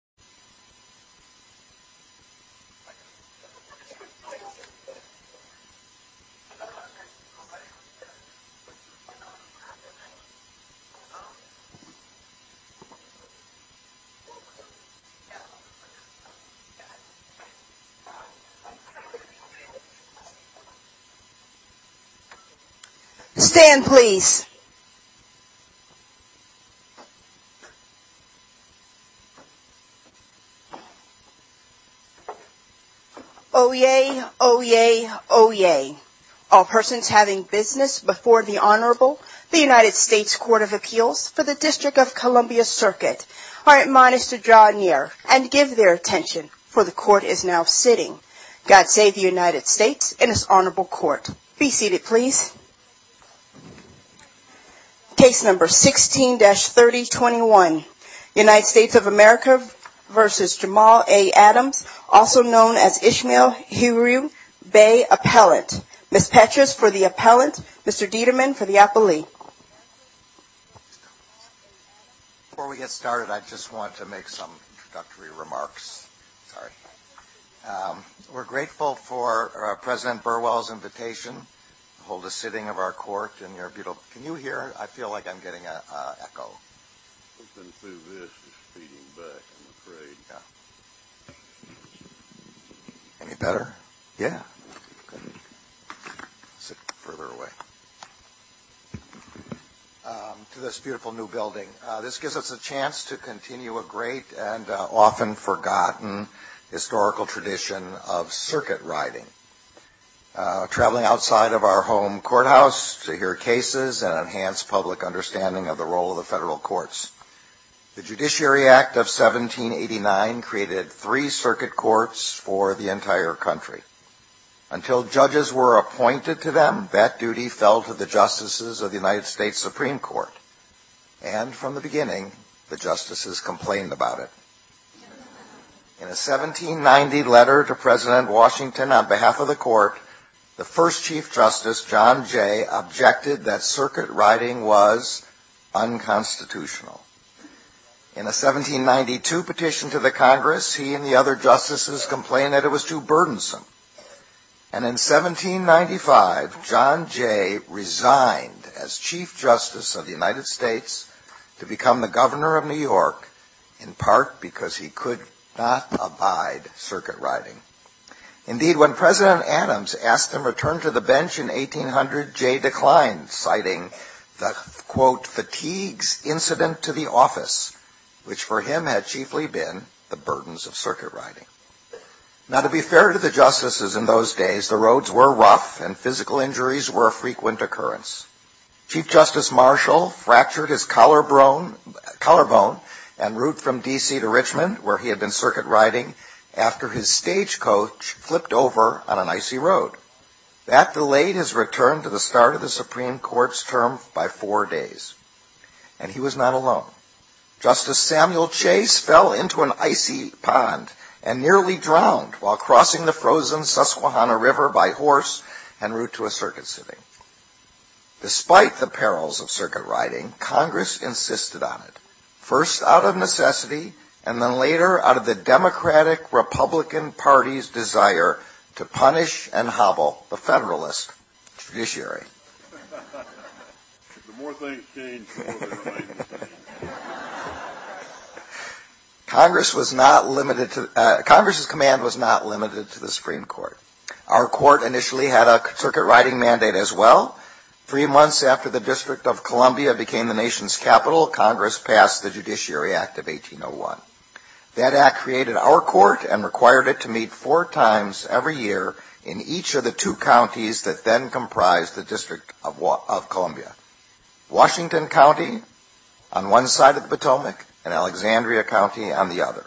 a NASCAR Olympian and former firefighter was buried here in his house. No matter how close you are, it's Grayson Hodges. Stand please Oyez, Oyez, Oyez, all persons having business before the Honorable, the United States Court of Appeals for the District of Columbia Circuit are admonished to draw near and give their attention for the court is now sitting. God save the United States and his Honorable Court. Be seated please. Case number 16-3021, United States of America v. Jamal A. Adams, also known as Ishmael Heru Bay Appellant. Ms. Petras for the appellant, Mr. Dieterman for the appellee. Before we get started, I just want to make some introductory remarks. We're grateful for President Burwell's invitation to hold a sitting of our court in your beautiful house. Can you hear? I feel like I'm getting an echo. Let's move this. It's feeding back, I'm afraid. Yeah. Any better? Yeah. Sit further away. To this beautiful new building, this gives us a chance to continue a great and often forgotten historical tradition of circuit riding. Traveling outside of our home courthouse to hear cases and enhance public understanding of the role of the federal courts. The Judiciary Act of 1789 created three circuit courts for the entire country. Until judges were appointed to them, that duty fell to the justices of the United States Supreme Court. And from the beginning, the justices complained about it. In a 1790 letter to President Washington on behalf of the court, the first Chief Justice, John Jay, objected that circuit riding was unconstitutional. In a 1792 petition to the Congress, he and the other justices complained that it was too burdensome. And in 1795, John Jay resigned as Chief Justice of the United States to become the Governor of New York, in part because he could not abide circuit riding. Indeed, when President Adams asked him to return to the bench in 1800, Jay declined, citing the, quote, fatigues incident to the office, which for him had chiefly been the burdens of circuit riding. Now, to be fair to the justices in those days, the roads were rough and physical injuries were a frequent occurrence. Chief Justice Marshall fractured his collarbone en route from D.C. to Richmond, where he had been circuit riding, after his stagecoach flipped over on an icy road. That delayed his return to the start of the Supreme Court's term by four days. And he was not alone. Justice Samuel Chase fell into an icy pond and nearly drowned while crossing the frozen Susquehanna River by horse en route to a circuit sitting. Despite the perils of circuit riding, Congress insisted on it, first out of necessity and then later out of the Democratic-Republican Party's desire to punish and hobble the Federalist judiciary. Congress's command was not limited to the Supreme Court. Our court initially had a circuit riding mandate as well. Three months after the District of Columbia became the nation's capital, Congress passed the Judiciary Act of 1801. That act created our court and required it to meet four times every year in each of the two counties that then comprised the District of Columbia. Washington County on one side of the Potomac and Alexandria County on the other.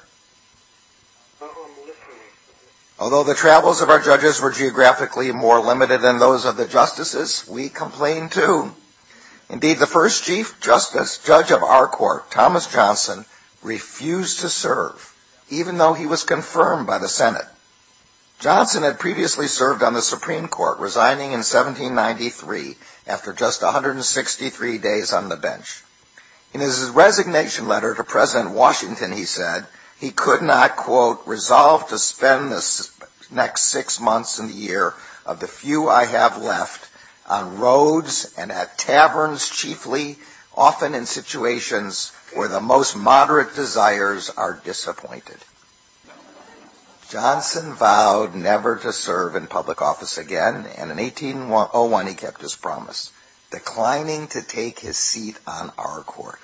Although the travels of our judges were geographically more limited than those of the justices, we complained too. Indeed, the first Chief Justice, Judge of our Court, Thomas Johnson, refused to serve, even though he was confirmed by the Senate. Johnson had previously served on the Supreme Court, resigning in 1793 after just 163 days on the bench. In his resignation letter to President Washington, he said, he could not, quote, resolve to spend the next six months of the year of the few I have left on roads and at taverns chiefly, often in situations where the most moderate desires are disappointed. Johnson vowed never to serve in public office again, and in 1801 he kept his promise, declining to take his seat on our court.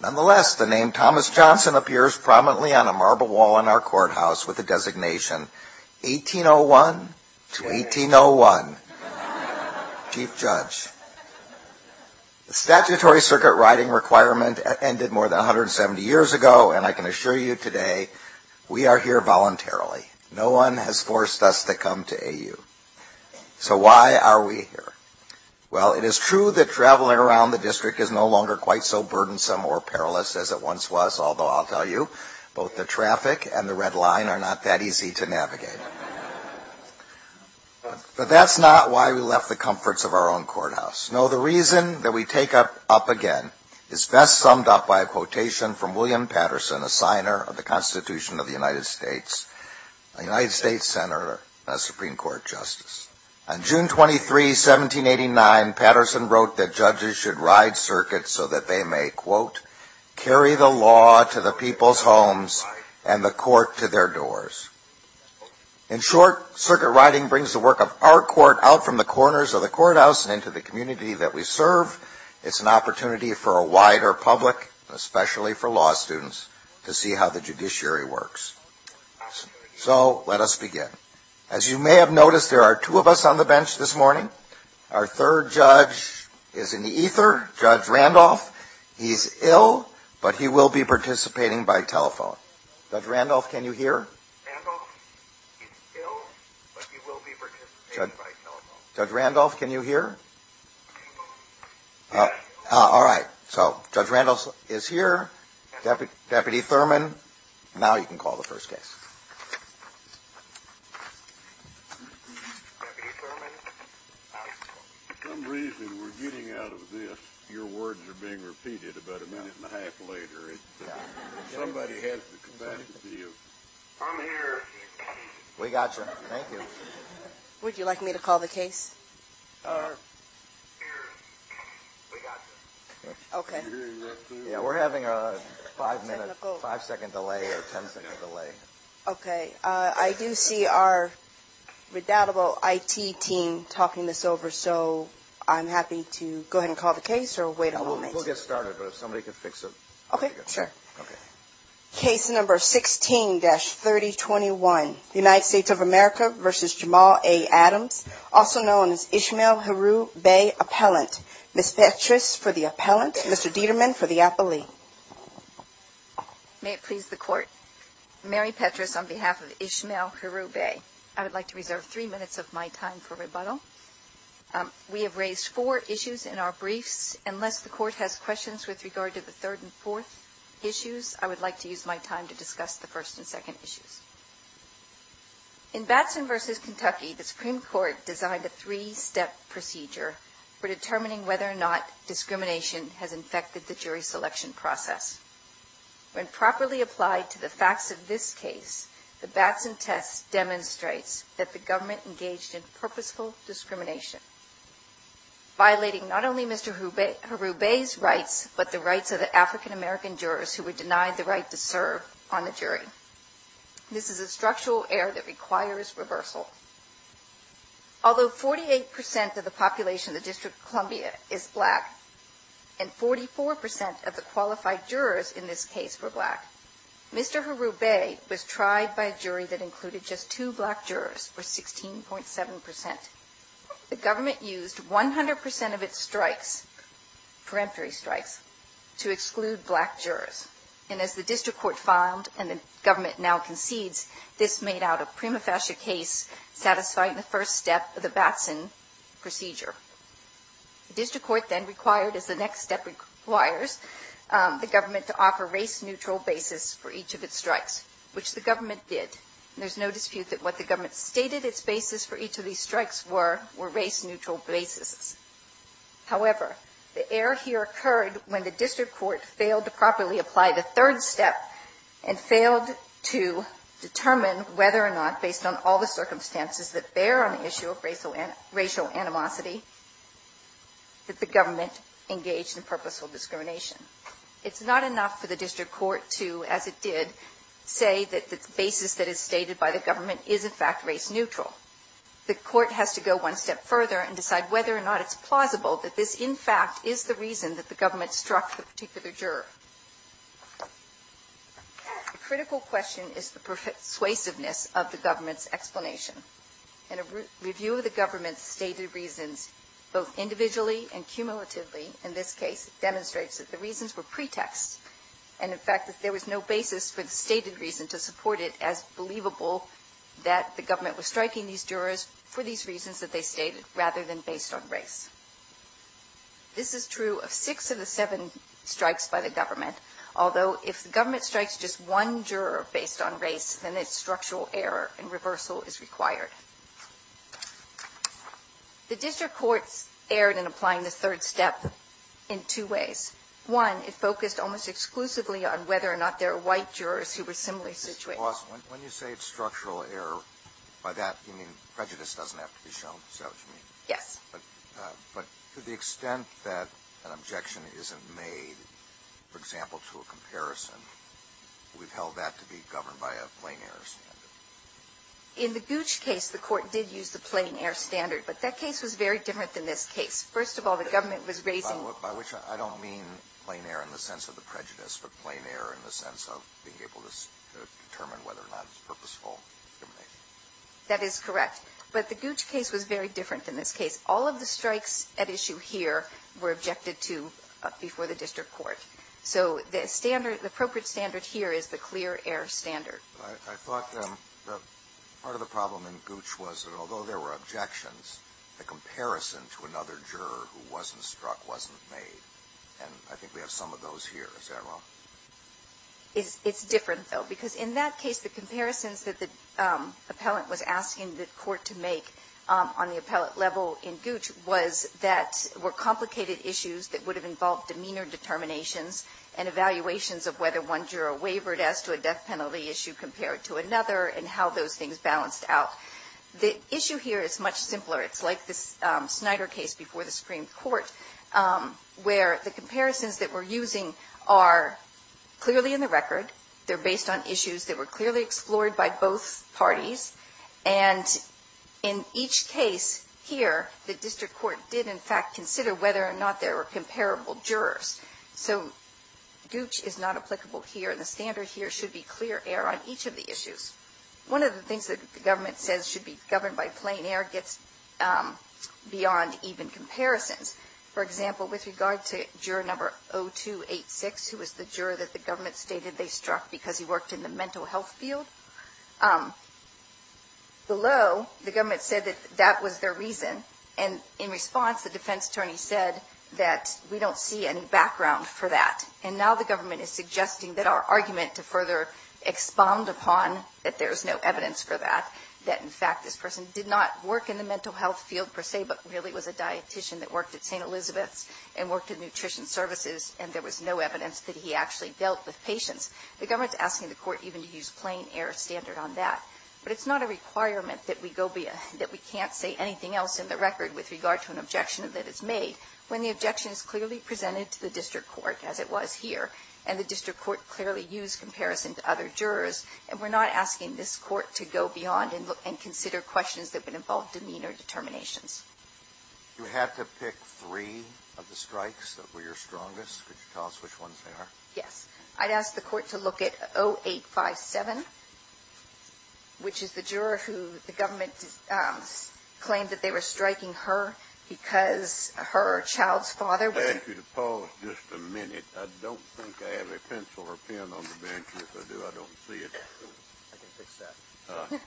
Nonetheless, the name Thomas Johnson appears prominently on a marble wall in our courthouse with the designation, 1801 to 1801, Chief Judge. The statutory circuit writing requirement ended more than 170 years ago, and I can assure you today, we are here voluntarily. No one has forced us to come to AU. So why are we here? Well, it is true that traveling around the district is no longer quite so burdensome or perilous as it once was, although I'll tell you, both the traffic and the red line are not that easy to navigate. But that's not why we left the comforts of our own courthouse. No, the reason that we take up again is best summed up by a quotation from William Patterson, a signer of the Constitution of the United States, a United States Senator, and a Supreme Court Justice. On June 23, 1789, Patterson wrote that judges should ride circuits so that they may, quote, carry the law to the people's homes and the court to their doors. In short, circuit writing brings the work of our court out from the corners of the courthouse and into the community that we serve. It's an opportunity for a wider public, especially for law students, to see how the judiciary works. So let us begin. As you may have noticed, there are two of us on the bench this morning. Our third judge is in the ether, Judge Randolph. He's ill, but he will be participating by telephone. Judge Randolph, can you hear? All right. So Judge Randolph is here. Deputy Thurman. Now you can call the first case. Deputy Thurman. For some reason we're getting out of this. Your words are being repeated about a minute and a half later. Somebody has the capacity of... I'm here. We got you. Thank you. Would you like me to call the case? We're here. We got you. OK. Yeah, we're having a five minute, five second delay or ten second delay. OK, I do see our redoubtable I.T. team talking this over. So I'm happy to go ahead and call the case or wait a moment. We'll get started. But if somebody can fix it. OK, sure. Case number 16-3021. The United States of America versus Jamal A. Adams. Also known as Ishmael Herubey Appellant. Ms. Petras for the appellant. Mr. Dieterman for the appellee. May it please the court. Mary Petras on behalf of Ishmael Herubey. I would like to reserve three minutes of my time for rebuttal. We have raised four issues in our briefs. Unless the court has questions with regard to the third and fourth issues, I would like to use my time to discuss the first and second issues. In Batson versus Kentucky, the Supreme Court designed a three step procedure for determining whether or not discrimination has infected the jury selection process. When properly applied to the facts of this case, the Batson test demonstrates that the government engaged in purposeful discrimination. Violating not only Mr. Herubey's rights, but the rights of the African-American jurors who were denied the right to serve on the jury. This is a structural error that requires reversal. Although 48% of the population of the District of Columbia is black, and 44% of the qualified jurors in this case were black, Mr. Herubey was tried by a jury that included just two black jurors, or 16.7%. The government used 100% of its strikes, peremptory strikes, to exclude black jurors. And as the district court filed, and the government now concedes, this made out a prima facie case satisfying the first step of the Batson procedure. The district court then required, as the next step requires, the government to offer race neutral basis for each of its strikes, which the government did. There's no dispute that what the government stated its basis for each of these strikes were race neutral basis. However, the error here occurred when the district court failed to properly apply the third step, and failed to determine whether or not, based on all the circumstances that bear on the issue of racial animosity, that the government engaged in purposeful discrimination. It's not enough for the district court to, as it did, say that the basis that is stated by the government is, in fact, race neutral. The court has to go one step further and decide whether or not it's plausible that this, in fact, is the reason that the government struck the particular juror. A critical question is the persuasiveness of the government's explanation. In a review of the government's stated reasons, both individually and cumulatively, in this case, it demonstrates that the reasons were pretexts, and, in fact, that there was no basis for the stated reason to support it as believable that the government was striking these jurors for these reasons that they stated, rather than based on race. This is true of six of the seven strikes by the government. Although, if the government strikes just one juror based on race, then it's structural error and reversal is required. The district courts erred in applying the third step in two ways. One, it focused almost exclusively on whether or not there were white jurors who were similarly situated. Alito, when you say it's structural error, by that you mean prejudice doesn't have to be shown? Is that what you mean? Yes. But to the extent that an objection isn't made, for example, to a comparison, we've held that to be governed by a plain-error standard. In the Gooch case, the court did use the plain-error standard. But that case was very different than this case. First of all, the government was raising By which I don't mean plain-error in the sense of the prejudice, but plain-error in the sense of being able to determine whether or not it's purposeful discrimination. That is correct. But the Gooch case was very different than this case. All of the strikes at issue here were objected to before the district court. So the standard, the appropriate standard here is the clear-error standard. I thought part of the problem in Gooch was that although there were objections, the comparison to another juror who wasn't struck wasn't made. And I think we have some of those here. Is that wrong? It's different, though, because in that case, the comparisons that the appellant was asking the court to make on the appellate level in Gooch was that were complicated issues that would have involved demeanor determinations and evaluations of whether one juror wavered as to a death penalty issue compared to another and how those things balanced out. The issue here is much simpler. It's like this Snyder case before the Supreme Court where the comparisons that we're using are clearly in the record. They're based on issues that were clearly explored by both parties. And in each case here, the district court did, in fact, consider whether or not there were comparable jurors. So Gooch is not applicable here. The standard here should be clear-error on each of the issues. One of the things that the government says should be governed by plain air gets beyond even comparisons. For example, with regard to juror number 0286, who was the juror that the government stated they struck because he worked in the mental health field, below, the government said that that was their reason. And in response, the defense attorney said that we don't see any background for that. And now the government is suggesting that our argument to further expound upon that there's no evidence for that, that in fact this person did not work in the mental health field per se, but really was a dietician that worked at St. Elizabeth's and worked in nutrition services, and there was no evidence that he actually dealt with patients. The government's asking the court even to use plain air standard on that. But it's not a requirement that we go be, that we can't say anything else in the record with regard to an objection that is made when the objection is clearly presented to the district court, as it was here. And the district court clearly used comparison to other jurors. And we're not asking this court to go beyond and consider questions that would involve demeanor determinations. You had to pick three of the strikes that were your strongest. Could you tell us which ones they are? Yes. I'd ask the court to look at 0857, which is the juror who the government claimed that they were striking her, because her child's father- I'd ask you to pause just a minute. I don't think I have a pencil or pen on the bench. If I do, I don't see it. I can fix that.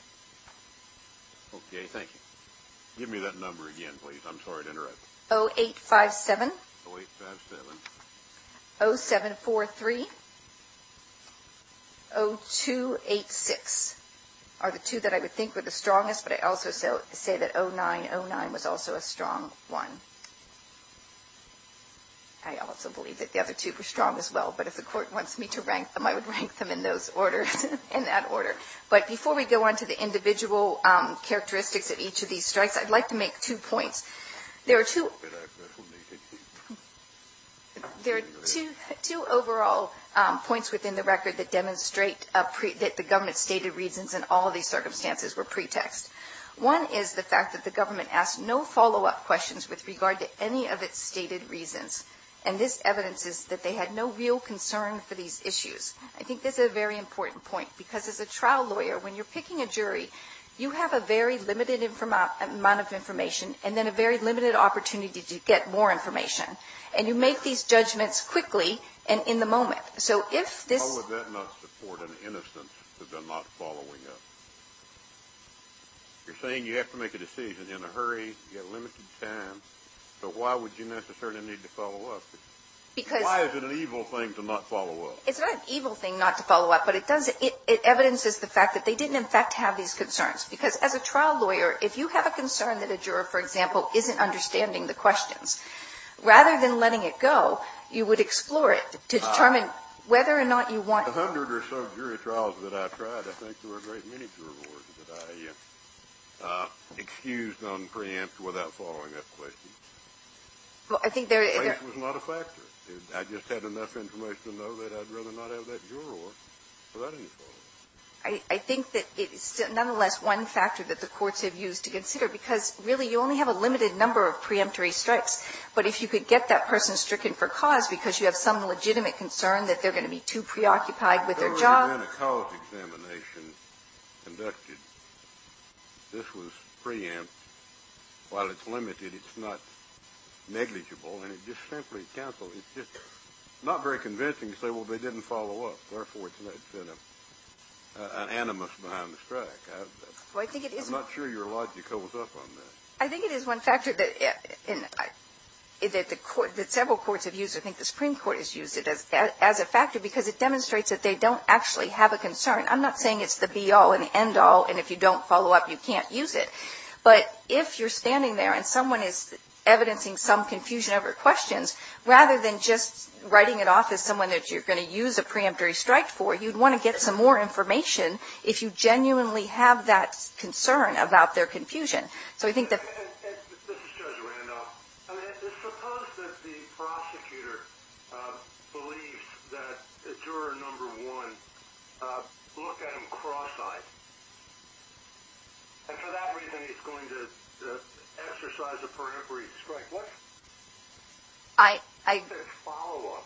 Okay, thank you. Give me that number again, please. I'm sorry to interrupt. 0857. 0857. 0743. 0286 are the two that I would think were the strongest, but I also say that 0909 was also a strong one. I also believe that the other two were strong as well. But if the court wants me to rank them, I would rank them in that order. But before we go on to the individual characteristics of each of these strikes, I'd like to make two points. There are two overall points within the record that demonstrate that the government's stated reasons in all these circumstances were pretext. One is the fact that the government asked no follow-up questions with regard to any of its stated reasons. And this evidence is that they had no real concern for these issues. I think this is a very important point, because as a trial lawyer, when you're picking a jury, you have a very limited amount of information and then a very limited opportunity to get more information. And you make these judgments quickly and in the moment. So if this- You're saying you have to make a decision in a hurry, you've got limited time, so why would you necessarily need to follow up? Because- Why is it an evil thing to not follow up? It's not an evil thing not to follow up, but it does- it evidences the fact that they didn't in fact have these concerns. Because as a trial lawyer, if you have a concern that a juror, for example, isn't understanding the questions, rather than letting it go, you would explore it to determine whether or not you want- Of the hundred or so jury trials that I've tried, I think there were a great many jurors that I excused on preempt without following up questions. Well, I think there- Preemption was not a factor. I just had enough information to know that I'd rather not have that juror without any follow-up. I think that it's nonetheless one factor that the courts have used to consider, because really you only have a limited number of preemptory strikes. But if you could get that person stricken for cause because you have some legitimate concern that they're going to be too preoccupied with their job- If you had a cause examination conducted, this was preempt while it's limited. It's not negligible. And it just simply canceled. It's just not very convincing to say, well, they didn't follow up. Therefore, it's an animus behind the strike. I'm not sure your logic holds up on that. I think it is one factor that several courts have used. I think the Supreme Court has used it as a factor because it demonstrates that they don't actually have a concern. I'm not saying it's the be-all and the end-all, and if you don't follow up, you can't use it. But if you're standing there and someone is evidencing some confusion over questions, rather than just writing it off as someone that you're going to use a preemptory strike for, you'd want to get some more information if you genuinely have that concern about their confusion. So I think that- This is Judge Randolph. Suppose that the prosecutor believes that juror number one looked at him cross-eyed. And for that reason, he's going to exercise a preemptory strike. What's his follow-up?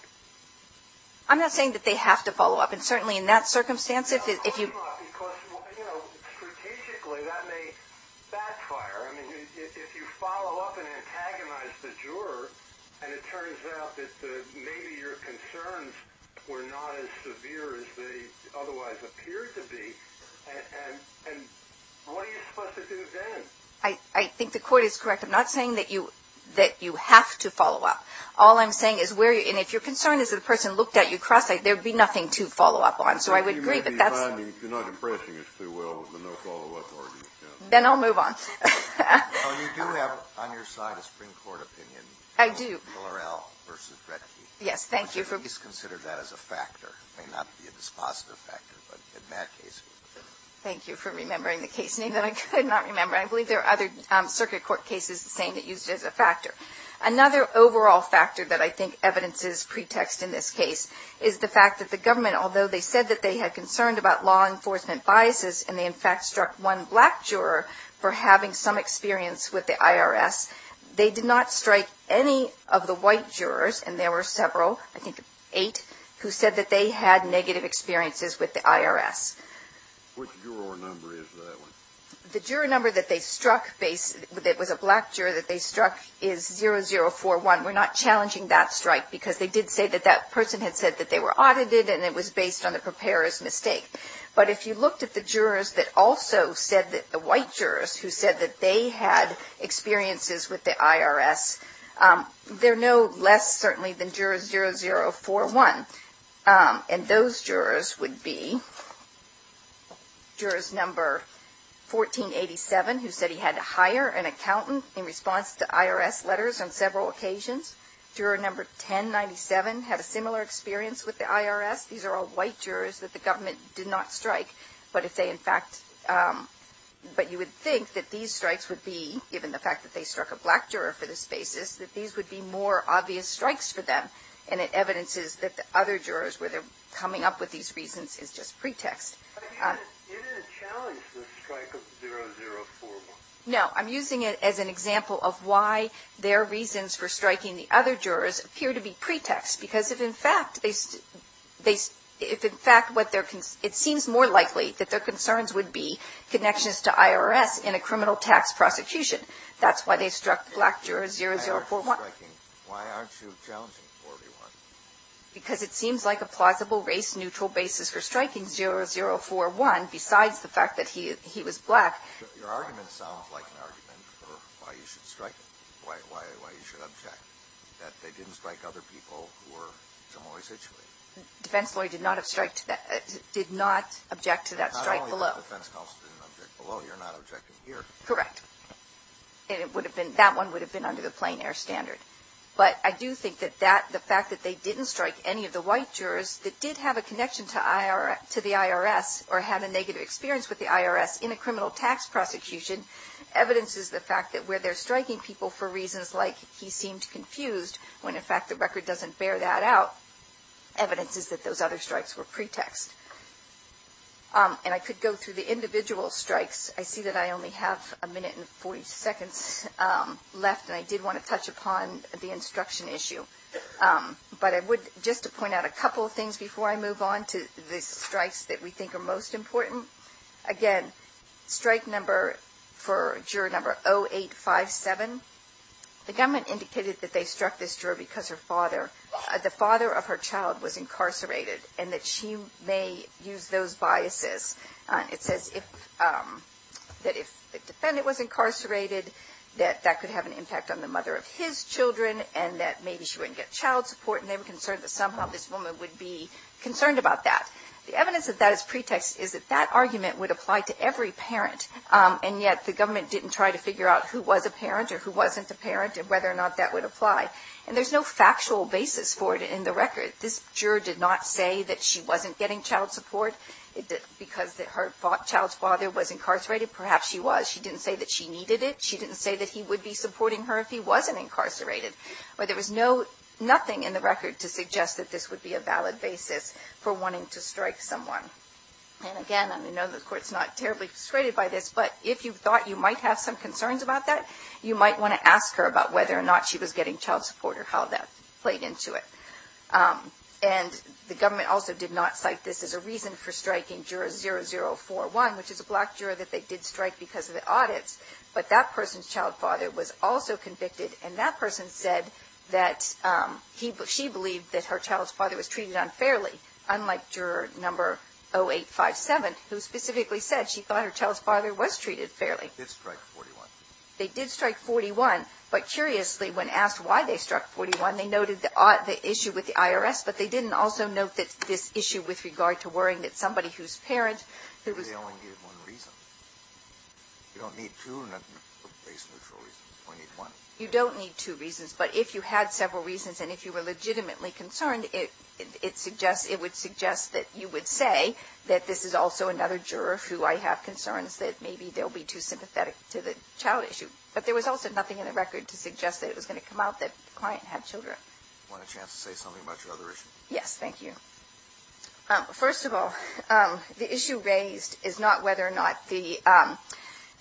I'm not saying that they have to follow up. And certainly in that circumstance, if you- Because strategically, that may backfire. I mean, if you follow up and antagonize the juror, and it turns out that maybe your concerns were not as severe as they otherwise appeared to be, and what are you supposed to do then? I think the court is correct. I'm not saying that you have to follow up. All I'm saying is where you- And if your concern is that the person looked at you cross-eyed, there'd be nothing to follow up on. So I would agree, but that's- You're not impressing us too well with the no follow-up argument. Then I'll move on. Well, you do have on your side a Supreme Court opinion. I do. Miller L. v. Redke. Yes. Thank you for- Please consider that as a factor. It may not be a dispositive factor, but in that case- Thank you for remembering the case name that I could not remember. I believe there are other circuit court cases the same that use it as a factor. Another overall factor that I think evidences pretext in this case is the fact that the government, although they said that they had concerns about law enforcement biases, and they in fact struck one black juror for having some experience with the IRS, they did not strike any of the white jurors, and there were several, I think eight, who said that they had negative experiences with the IRS. Which juror number is that one? The juror number that they struck based- that was a black juror that they struck is 0041. We're not challenging that strike because they did say that that person had said that they were audited, and it was based on the preparer's mistake. But if you looked at the jurors that also said that- the white jurors who said that they had experiences with the IRS, they're no less certainly than jurors 0041. And those jurors would be jurors number 1487, who said he had to hire an accountant in response to IRS letters on several occasions. Juror number 1097 had a similar experience with the IRS. These are all white jurors that the government did not strike. But if they in fact- but you would think that these strikes would be, given the fact that they struck a black juror for this basis, that these would be more obvious strikes for them. And it evidences that the other jurors, where they're coming up with these reasons, is just pretext. But you didn't challenge the strike of 0041. No, I'm using it as an example of why their reasons for striking the other jurors appear to be pretext. Because if in fact they- if in fact what their- it seems more likely that their concerns would be connections to IRS in a criminal tax prosecution. That's why they struck black juror 0041. Why aren't you challenging 0041? Because it seems like a plausible race-neutral basis for striking 0041, besides the fact that he was black. Your argument sounds like an argument for why you should strike- why you should object. That they didn't strike other people who were in a similar situation. Defense lawyer did not object to that strike below. Not only did the defense counsel didn't object below, you're not objecting here. Correct. And it would have been- that one would have been under the plain air standard. But I do think that that- the fact that they didn't strike any of the white jurors that did have a connection to the IRS, or had a negative experience with the IRS in a criminal tax prosecution, evidences the fact that where they're striking people for reasons like he seemed confused, when in fact the record doesn't bear that out, evidences that those other strikes were pretext. And I could go through the individual strikes. I see that I only have a minute and 40 seconds left, and I did want to touch upon the instruction issue. But I would- just to point out a couple of things before I move on to the strikes that we think are most important. Again, strike number for juror number 0857. The government indicated that they struck this juror because her father- the father of her child was incarcerated, and that she may use those biases. It says if- that if the defendant was incarcerated, that that could have an impact on the mother of his children, and that maybe she wouldn't get child support, and they were concerned that somehow this woman would be concerned about that. The evidence that that is pretext is that that argument would apply to every parent, and yet the government didn't try to figure out who was a parent or who wasn't a parent, and whether or not that would apply. And there's no factual basis for it in the record. This juror did not say that she wasn't getting child support because her child's father was incarcerated. Perhaps she was. She didn't say that she needed it. She didn't say that he would be supporting her if he wasn't incarcerated. But there was no- nothing in the record to suggest that this would be a valid basis for wanting to strike someone. And again, I know the court's not terribly frustrated by this, but if you thought you might have some concerns about that, you might want to ask her about whether or not she was getting child support or how that played into it. And the government also did not cite this as a reason for striking juror 0041, which is a black juror that they did strike because of the audits, but that person's child father was also convicted, and that person said that she believed that her child's father was treated unfairly, unlike juror number 0857, who specifically said she thought her child's father was treated fairly. They did strike 41. But curiously, when asked why they struck 41, they noted the issue with the IRS, but they didn't also note that this issue with regard to worrying that somebody who's parent who was- They only gave one reason. You don't need two base neutral reasons. You only need one. You don't need two reasons, but if you had several reasons, and if you were legitimately concerned, it would suggest that you would say that this is also another juror who I have concerns that maybe they'll be too sympathetic to the child issue. But there was also nothing in the record to suggest that it was going to come out that the client had children. Do you want a chance to say something about your other issue? Yes, thank you. First of all, the issue raised is not whether or not the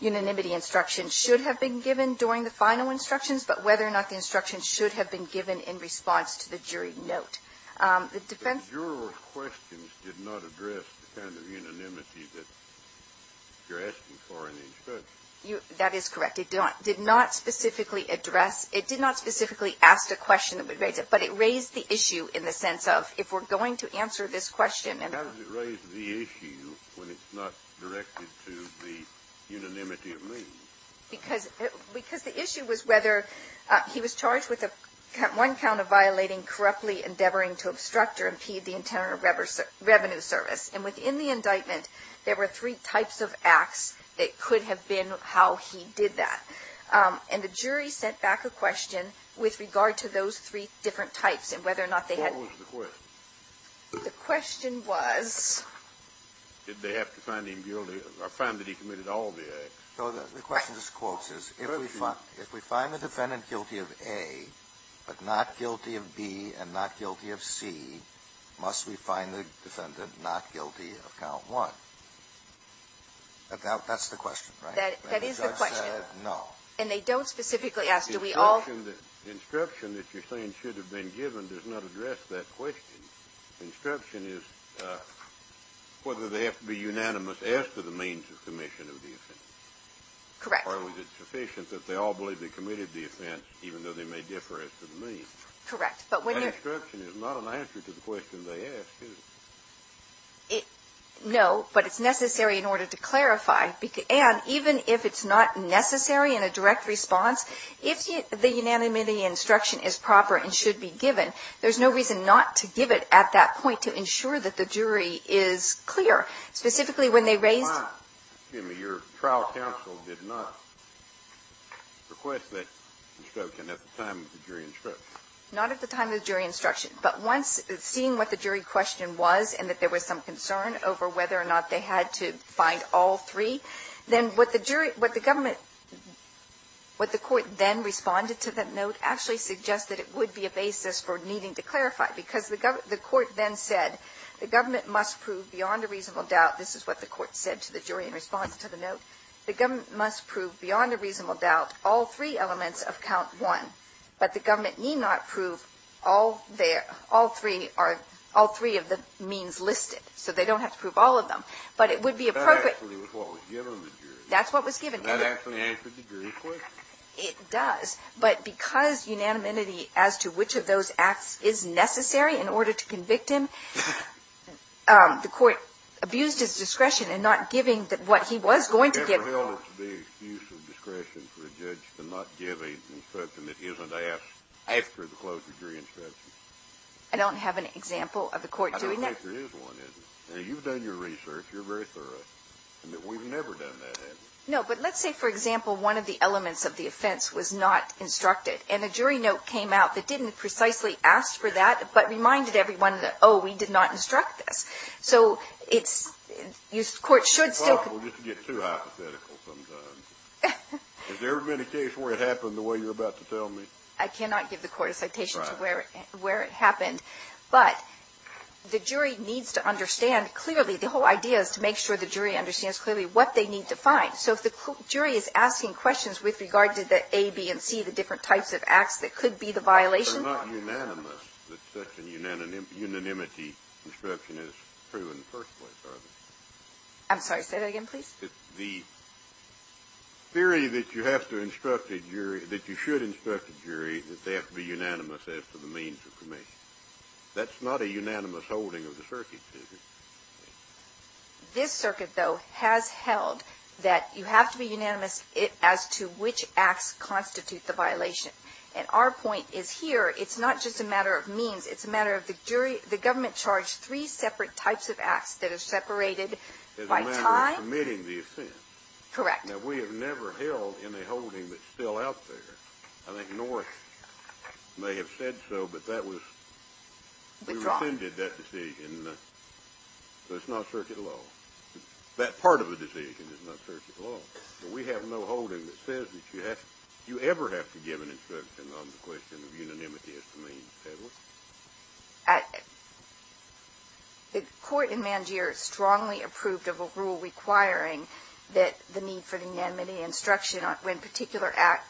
unanimity instruction should have been given during the final instructions, but whether or not the instructions should have been given in response to the jury note. The defense- The juror's questions did not address the kind of unanimity that you're asking for in the instructions. That is correct. It did not specifically address- It did not specifically ask a question that would raise it, but it raised the issue in the sense of if we're going to answer this question- How does it raise the issue when it's not directed to the unanimity of means? Because the issue was whether he was charged with one count of violating, corruptly endeavoring to obstruct or impede the intent of revenue service. And within the indictment, there were three types of acts that could have been how he did that. And the jury sent back a question with regard to those three different types, and whether or not they had- What was the question? The question was- Did they have to find him guilty or find that he committed all the acts? No. The question just quotes us. If we find the defendant guilty of A, but not guilty of B, and not guilty of C, must we find the defendant not guilty of count one? That's the question, right? That is the question. No. And they don't specifically ask, do we all- The instruction that you're saying should have been given does not address that question. Instruction is whether they have to be unanimous as to the means of commission of the offense. Correct. Or was it sufficient that they all believe they committed the offense, even though they may differ as to the means? Correct. But when you're- That instruction is not an answer to the question they ask, is it? No, but it's necessary in order to clarify. And even if it's not necessary in a direct response, if the unanimity instruction is proper and should be given, there's no reason not to give it at that point to ensure that the jury is clear. Specifically when they raised- Your trial counsel did not request that instruction at the time of the jury instruction. Not at the time of the jury instruction. But once, seeing what the jury question was and that there was some concern over whether or not they had to find all three, then what the jury – what the government – what the court then responded to that note actually suggests that it would be a basis for needing to clarify. Because the court then said, the government must prove beyond a reasonable doubt, this is what the court said to the jury in response to the note, the government must prove beyond a reasonable doubt all three elements of count one. But the government need not prove all three are – all three of the means listed. So they don't have to prove all of them. But it would be appropriate- That's what was given. It does. But because unanimity as to which of those acts is necessary in order to convict him, the court abused his discretion in not giving what he was going to give. I don't have an example of the court doing that. No, but let's say, for example, one of the elements of the offense was not instructed. And a jury note came out that didn't precisely ask for that, but reminded everyone that, oh, we did not instruct this. So it's – the court should still- It's impossible just to get too hypothetical sometimes. Has there ever been a case where it happened the way you're about to tell me? I cannot give the court a citation to where it happened. But the jury needs to understand clearly – The whole idea is to make sure the jury understands clearly what they need to find. So if the jury is asking questions with regard to the A, B, and C, the different types of acts that could be the violation- But it's not unanimous that such a unanimity instruction is proven first place, are they? I'm sorry. Say that again, please. The theory that you have to instruct a jury – that you should instruct a jury that they have to be unanimous as to the means of conviction. That's not a unanimous holding of the circuit, is it? This circuit, though, has held that you have to be unanimous as to which acts constitute the violation. And our point is here, it's not just a matter of means. It's a matter of the jury – the government charged three separate types of acts that are separated by time. It's a matter of submitting the offense. Correct. Now, we have never held in a holding that's still out there. Withdrawn. We have never handed that decision, so it's not circuit law. That part of the decision is not circuit law. So we have no holding that says that you have – you ever have to give an instruction on the question of unanimity as to means, have we? The court in Mangere strongly approved of a rule requiring that the need for unanimity instruction on particular acts-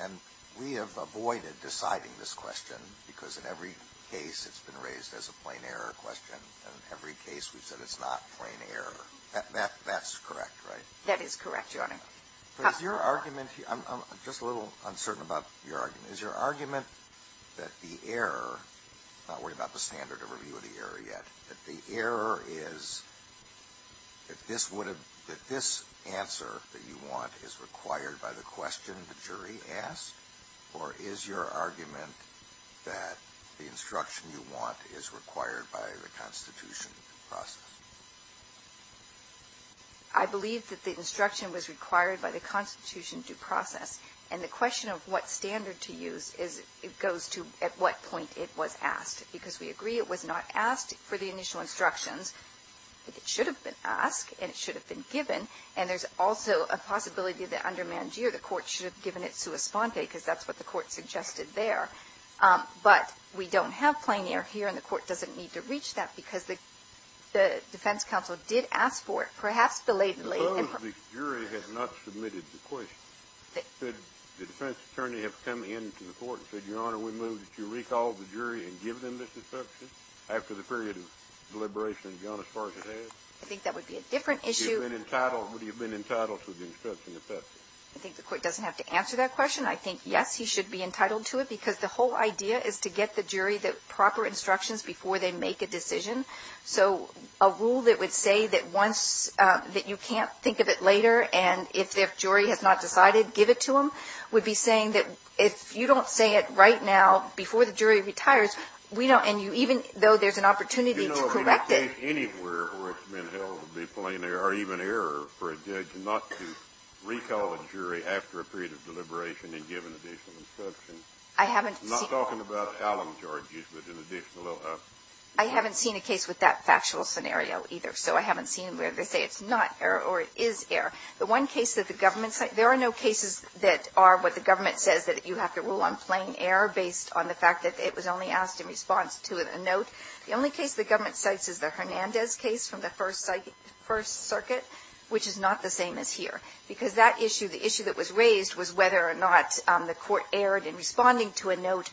And we have avoided deciding this question because in every case it's been raised as a plain error question, and in every case we've said it's not plain error. That's correct, right? That is correct, Your Honor. But is your argument – I'm just a little uncertain about your argument. Is your argument that the error – I'm not worried about the standard of review of the error yet – that the error is – that this answer that you want is required by the question the jury asked? Or is your argument that the instruction you want is required by the Constitution due process? I believe that the instruction was required by the Constitution due process. And the question of what standard to use is – it goes to at what point it was asked. Because we agree it was not asked for the initial instructions, but it should have been asked and it should have been given. And there's also a possibility that under Mangere the court should have given it sua sponte because that's what the court suggested there. But we don't have plain error here and the court doesn't need to reach that because the defense counsel did ask for it, perhaps belatedly. Suppose the jury has not submitted the question. Should the defense attorney have come in to the court and said, Your Honor, we move that you recall the jury and give them this instruction after the period of deliberation has gone as far as it has? I think that would be a different issue. Would he have been entitled to the instruction if that's it? I think the court doesn't have to answer that question. I think, yes, he should be entitled to it because the whole idea is to get the jury the proper instructions before they make a decision. So a rule that would say that once – that you can't think of it later and if the jury has not decided, give it to them, would be saying that if you don't say it right now before the jury retires, we don't – and you – even though there's an opportunity to correct it. Anywhere where it's been held to be plain error or even error for a judge not to recall a jury after a period of deliberation and give an additional instruction. I haven't seen – I'm not talking about Allen charges, but an additional – I haven't seen a case with that factual scenario either, so I haven't seen where they say it's not error or it is error. The one case that the government – there are no cases that are what the government says that you have to rule on plain error based on the fact that it was only asked in response to a note. The only case the government cites is the Hernandez case from the First Circuit, which is not the same as here, because that issue, the issue that was raised was whether or not the court erred in responding to a note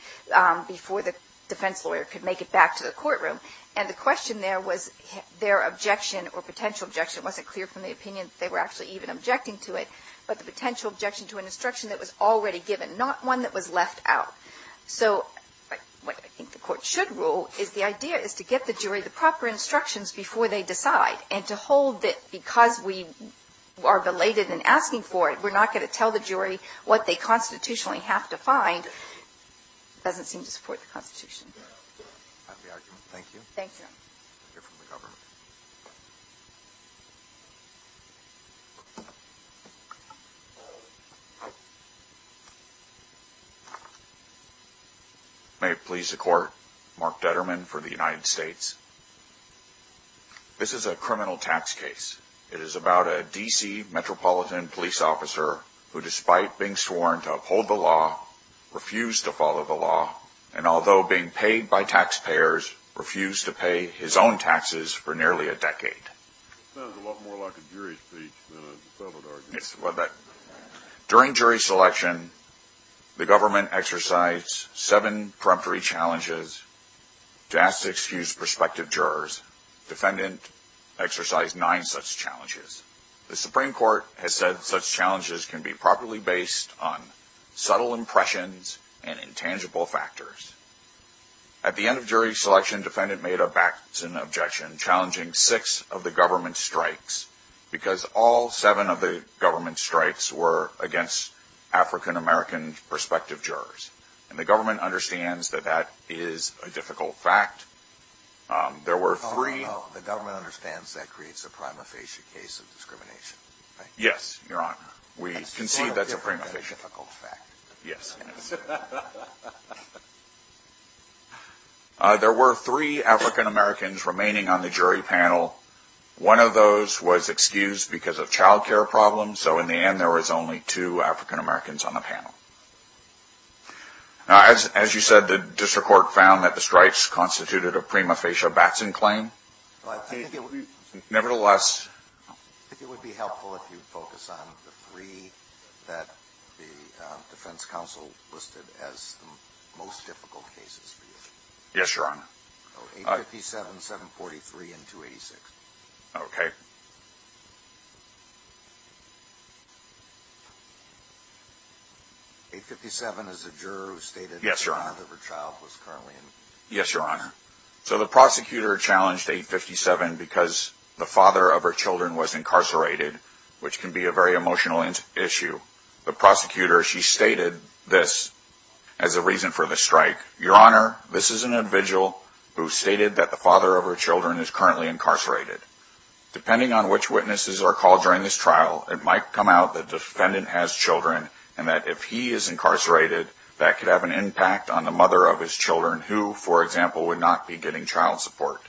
before the defense lawyer could make it back to the courtroom. And the question there was their objection or potential objection. It wasn't clear from the opinion that they were actually even objecting to it, but the potential objection to an instruction that was already given, not one that was left out. So what I think the court should rule is the idea is to get the jury the proper instructions before they decide, and to hold that because we are belated in asking for it, we're not going to tell the jury what they constitutionally have to find doesn't seem to support the Constitution. Thank you. Thank you. May it please the court. Mark Detterman for the United States. This is a criminal tax case. It is about a D.C. metropolitan police officer who, despite being sworn to uphold the law, refused to follow the law, and although being paid by taxpayers, refused to pay his own taxes for nearly a decade. Sounds a lot more like a jury speech than a defendant argument. During jury selection, the government exercised seven preemptory challenges to ask to excuse prospective jurors. Defendant exercised nine such challenges. The Supreme Court has said such challenges can be properly based on subtle impressions and intangible factors. At the end of jury selection, defendant made a Batson objection, challenging six of the government's strikes, because all seven of the government's strikes were against African-American prospective jurors. And the government understands that that is a difficult fact. There were three. The government understands that creates a prima facie case of discrimination, right? Yes, Your Honor. We concede that's a prima facie. Yes. There were three African-Americans remaining on the jury panel. One of those was excused because of child care problems. So in the end, there was only two African-Americans on the panel. As you said, the district court found that the strikes constituted a prima facie Batson claim. Nevertheless, I think it would be helpful if you focus on the three that the defense council listed as the most difficult cases for you. Yes, Your Honor. 857, 743, and 286. Okay. 857 is a juror who stated that her child was currently in. Yes, Your Honor. So the prosecutor challenged 857 because the father of her children was incarcerated, which can be a very emotional issue. The prosecutor, she stated this as a reason for the strike. Your Honor, this is an individual who stated that the father of her children is currently incarcerated. Depending on which witnesses are called during this trial, it might come out the defendant has children, and that if he is incarcerated, that could have an impact on the mother of his children, who, for example, would not be getting child support.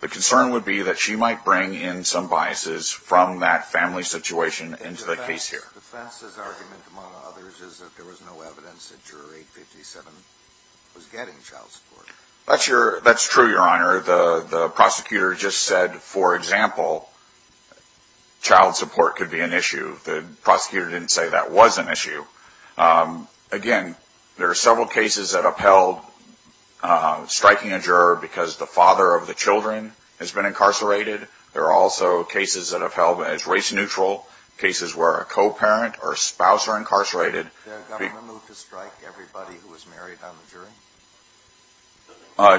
The concern would be that she might bring in some biases from that family situation into the case here. The defense's argument, among others, is that there was no evidence that juror 857 was getting child support. That's true, Your Honor. The prosecutor just said, for example, child support could be an issue. The prosecutor didn't say that was an issue. Again, there are several cases that upheld striking a juror because the father of the children has been incarcerated. There are also cases that upheld as race neutral, cases where a co-parent or a spouse are incarcerated. Did the government move to strike everybody who was married on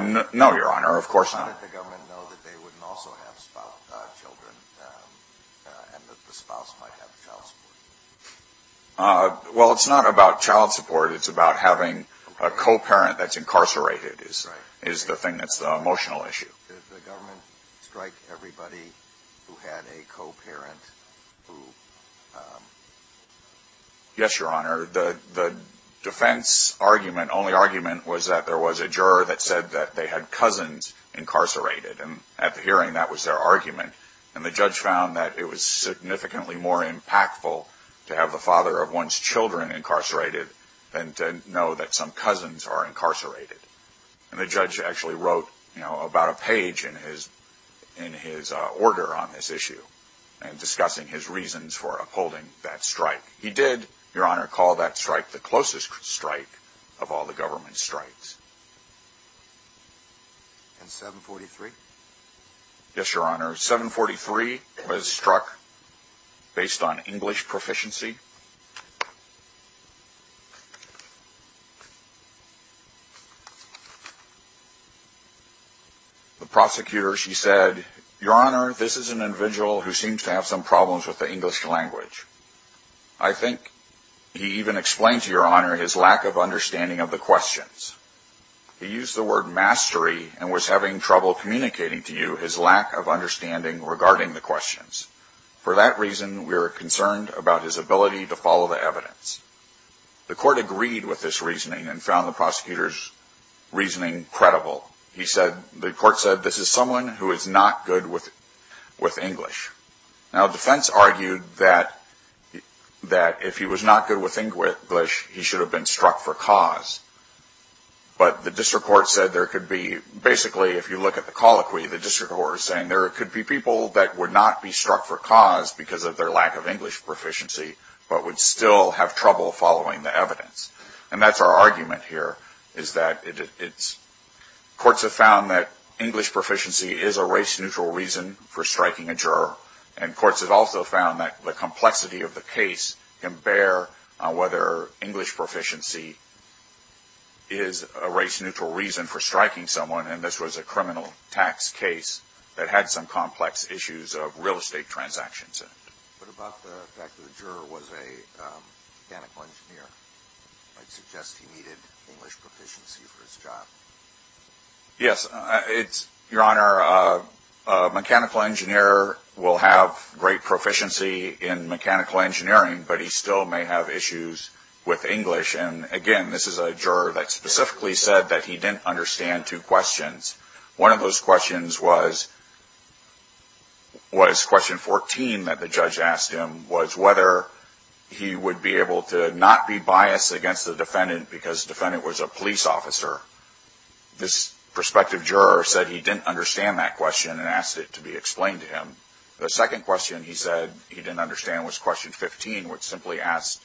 the jury? No, Your Honor, of course not. How did the government know that they wouldn't also have children and that the spouse might have child support? Well, it's not about child support. It's about having a co-parent that's incarcerated is the thing that's the emotional issue. Did the government strike everybody who had a co-parent who... And at the hearing, that was their argument. And the judge found that it was significantly more impactful to have the father of one's children incarcerated than to know that some cousins are incarcerated. And the judge actually wrote about a page in his order on this issue and discussing his reasons for upholding that strike. He did, Your Honor, call that strike the closest strike of all the government strikes. And 743? Yes, Your Honor, 743 was struck based on English proficiency. The prosecutor, she said, Your Honor, this is an individual who seems to have some problems with the English language. I think he even explained to Your Honor his lack of understanding of the questions. He used the word mastery and was having trouble communicating to you his lack of understanding regarding the questions. For that reason, we are concerned about his ability to follow the evidence. The court agreed with this reasoning and found the prosecutor's reasoning credible. He said, the court said, this is someone who is not good with English. Now, defense argued that if he was not good with English, he should have been struck for cause. But the district court said there could be, basically, if you look at the colloquy, the district court is saying there could be people that would not be struck for cause because of their lack of English proficiency, but would still have trouble following the evidence. And that's our argument here, is that courts have found that English proficiency is a race-neutral reason for striking a juror. And courts have also found that the complexity of the case can bear whether English proficiency is a race-neutral reason for striking someone, and this was a criminal tax case that had some complex issues of real estate transactions in it. But about the fact that the juror was a mechanical engineer, I'd suggest he needed English proficiency for his job. Yes, Your Honor, a mechanical engineer will have great proficiency in mechanical engineering, but he still may have issues with English. And again, this is a juror that specifically said that he didn't understand two questions. One of those questions was question 14 that the judge asked him, was whether he would be able to not be biased against the defendant because the defendant was a police officer. This prospective juror said he didn't understand that question and asked it to be explained to him. The second question he said he didn't understand was question 15, which simply asked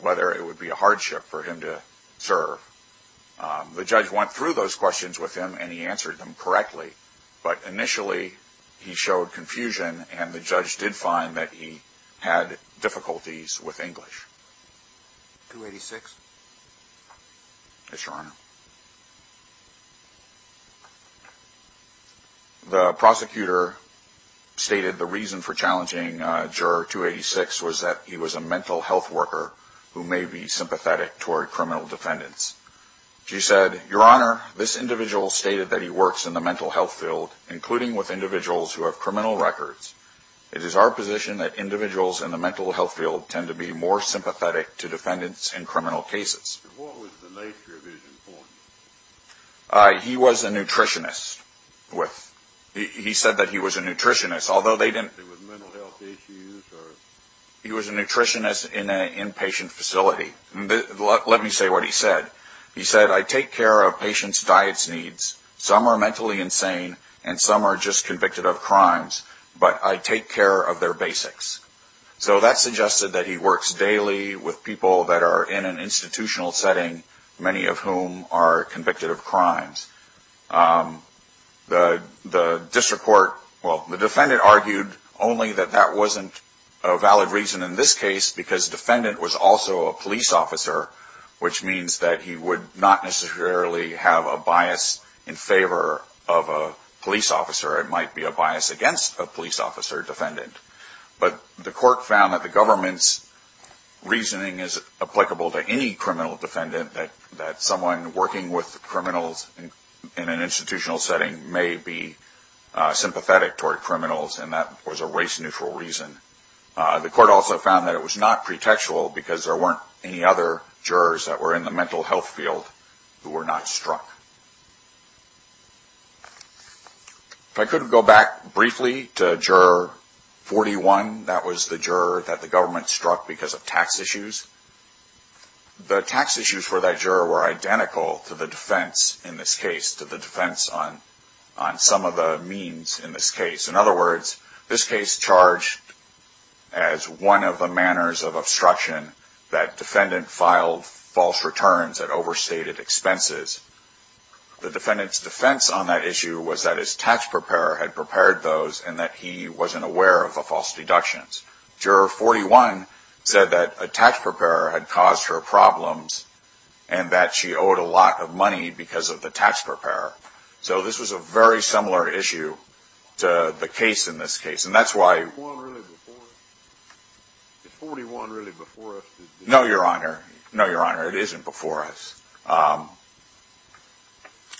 whether it would be a hardship for him to serve. The judge went through those questions with him and he answered them correctly, but initially he showed confusion and the judge did find that he had difficulties with English. 286. Yes, Your Honor. The prosecutor stated the reason for challenging Juror 286 was that he was a mental health worker who may be sympathetic toward criminal defendants. She said, Your Honor, this individual stated that he works in the mental health field, including with individuals who have criminal records. It is our position that individuals in the mental health field tend to be more sympathetic to defendants in criminal cases. He was a nutritionist. He said that he was a nutritionist, although they didn't... He was a nutritionist in an inpatient facility. Let me say what he said. He said, I take care of patients' diets needs. Some are mentally insane and some are just convicted of crimes, but I take care of their basics. So that suggested that he works daily with people that are in an institutional setting, many of whom are convicted of crimes. The district court... Well, the defendant argued only that that wasn't a valid reason in this case because the defendant was also a police officer, which means that he would not necessarily have a bias in favor of a police officer. It might be a bias against a police officer defendant. But the court found that the government's reasoning is applicable to any criminal defendant, that someone working with criminals in an institutional setting may be sympathetic toward criminals, and that was a race-neutral reason. The court also found that it was not pretextual because there weren't any other jurors that were in the mental health field who were not struck. If I could go back briefly to Juror 41, that was the juror that the government struck because of tax issues. The tax issues for that juror were identical to the defense in this case, to the defense on some of the means in this case. In other words, this case charged as one of the manners of obstruction that defendant filed false returns at overstated expenses. The defendant's defense on that issue was that his tax preparer had prepared those and that he wasn't aware of the false deductions. Juror 41 said that a tax preparer had caused her problems and that she owed a lot of money because of the tax preparer. So this was a very similar issue to the case in this case. And that's why... No, Your Honor. No, Your Honor. It isn't before us.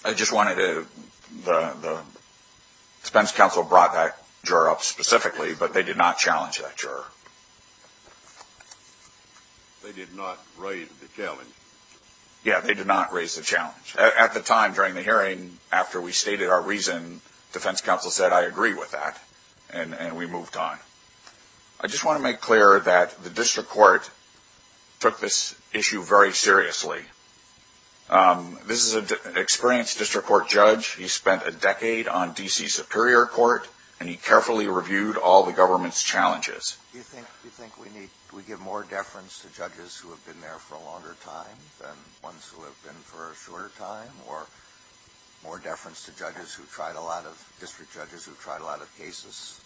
I just wanted to... The defense counsel brought that juror up specifically, but they did not challenge that juror. They did not raise the challenge. Yeah, they did not raise the challenge. At the time, during the hearing, after we stated our reason, defense counsel said, I agree with that, and we moved on. I just want to make clear that the district court took this issue very seriously. This is an experienced district court judge. He spent a decade on D.C. Superior Court, and he carefully reviewed all the government's challenges. Do you think we give more deference to judges who have been there for a longer time than ones who have been for a shorter time, or more deference to district judges who've tried a lot of cases?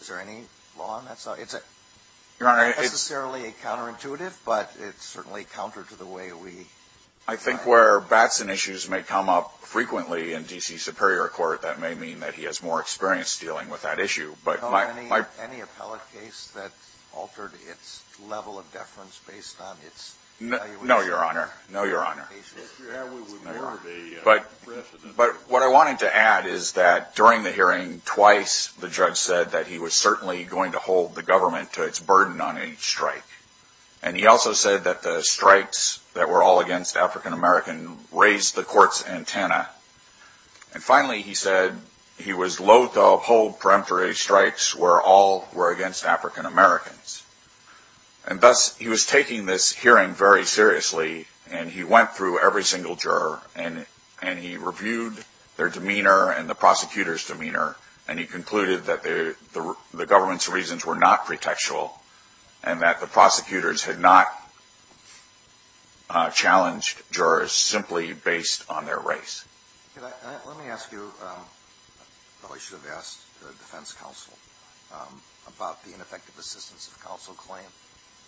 Is there any law on that side? It's not necessarily counterintuitive, but it's certainly counter to the way we... I think where Batson issues may come up frequently in D.C. Superior Court, that may mean that he has more experience dealing with that issue. Any appellate case that altered its level of deference based on its... No, Your Honor. No, Your Honor. But what I wanted to add is that during the hearing, twice the judge said that he was certainly going to hold the government to its burden on each strike. And he also said that the strikes that were all against African-American raised the court's antenna. And finally, he said he was loathe to uphold peremptory strikes where all were against African-Americans. And thus, he was taking this hearing very seriously, and he went through every single juror, and he reviewed their demeanor and the prosecutor's demeanor, and he concluded that the government's reasons were not pretextual and that the prosecutors had not challenged jurors simply based on their race. Let me ask you... I probably should have asked the defense counsel about the ineffective assistance of counsel claim.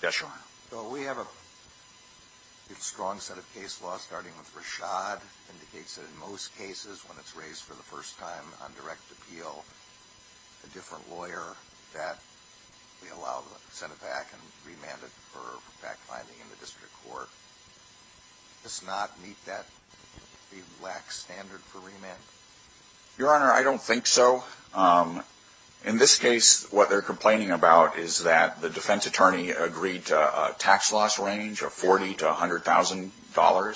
Yes, Your Honor. Well, we have a strong set of case law, starting with Rashad. It indicates that in most cases, when it's raised for the first time on direct appeal, a different lawyer that we allow to send it back and remand it for fact-finding in the district court. Does not meet that relaxed standard for remand? Your Honor, I don't think so. In this case, what they're complaining about is that the defense attorney agreed to a tax loss range of $40,000 to $100,000.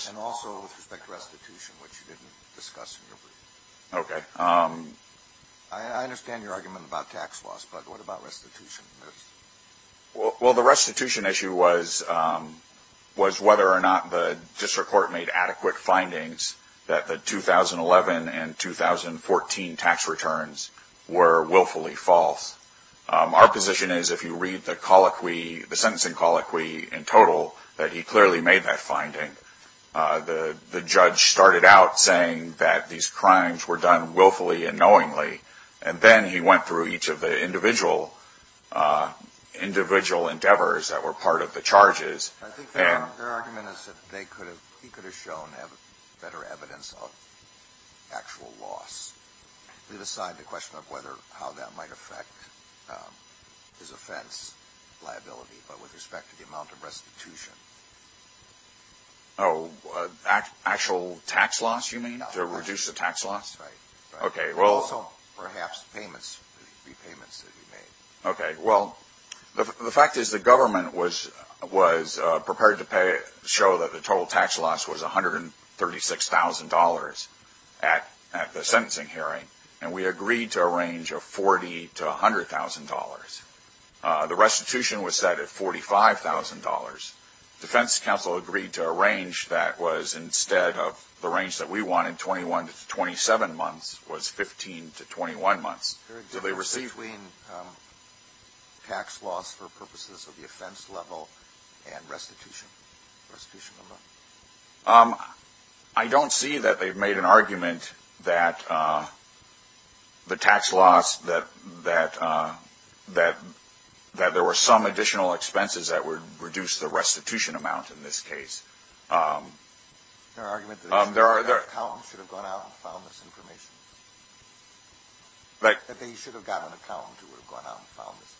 And also with respect to restitution, which you didn't discuss in your brief. Okay. I understand your argument about tax loss, but what about restitution? Well, the restitution issue was whether or not the district court made adequate findings that the 2011 and 2014 tax returns were willfully false. Our position is if you read the colloquy, the sentencing colloquy in total, that he clearly made that finding. The judge started out saying that these crimes were done willfully and knowingly. And then he went through each of the individual endeavors that were part of the charges. I think their argument is that he could have shown better evidence of actual loss. Just leave aside the question of how that might affect his offense liability, but with respect to the amount of restitution. Oh, actual tax loss, you mean? To reduce the tax loss? Right. Okay. Also, perhaps payments, repayments that he made. Okay. Well, the fact is the government was prepared to show that the total tax loss was $136,000 at the sentencing hearing, and we agreed to a range of $40,000 to $100,000. The restitution was set at $45,000. Defense counsel agreed to a range that was instead of the range that we wanted, 21 to 27 months, was 15 to 21 months. Is there a difference between tax loss for purposes of the offense level and restitution? I don't see that they've made an argument that the tax loss, that there were some additional expenses that would reduce the restitution amount in this case. Is there an argument that the accountant should have gone out and found this information? That they should have got an accountant who would have gone out and found this?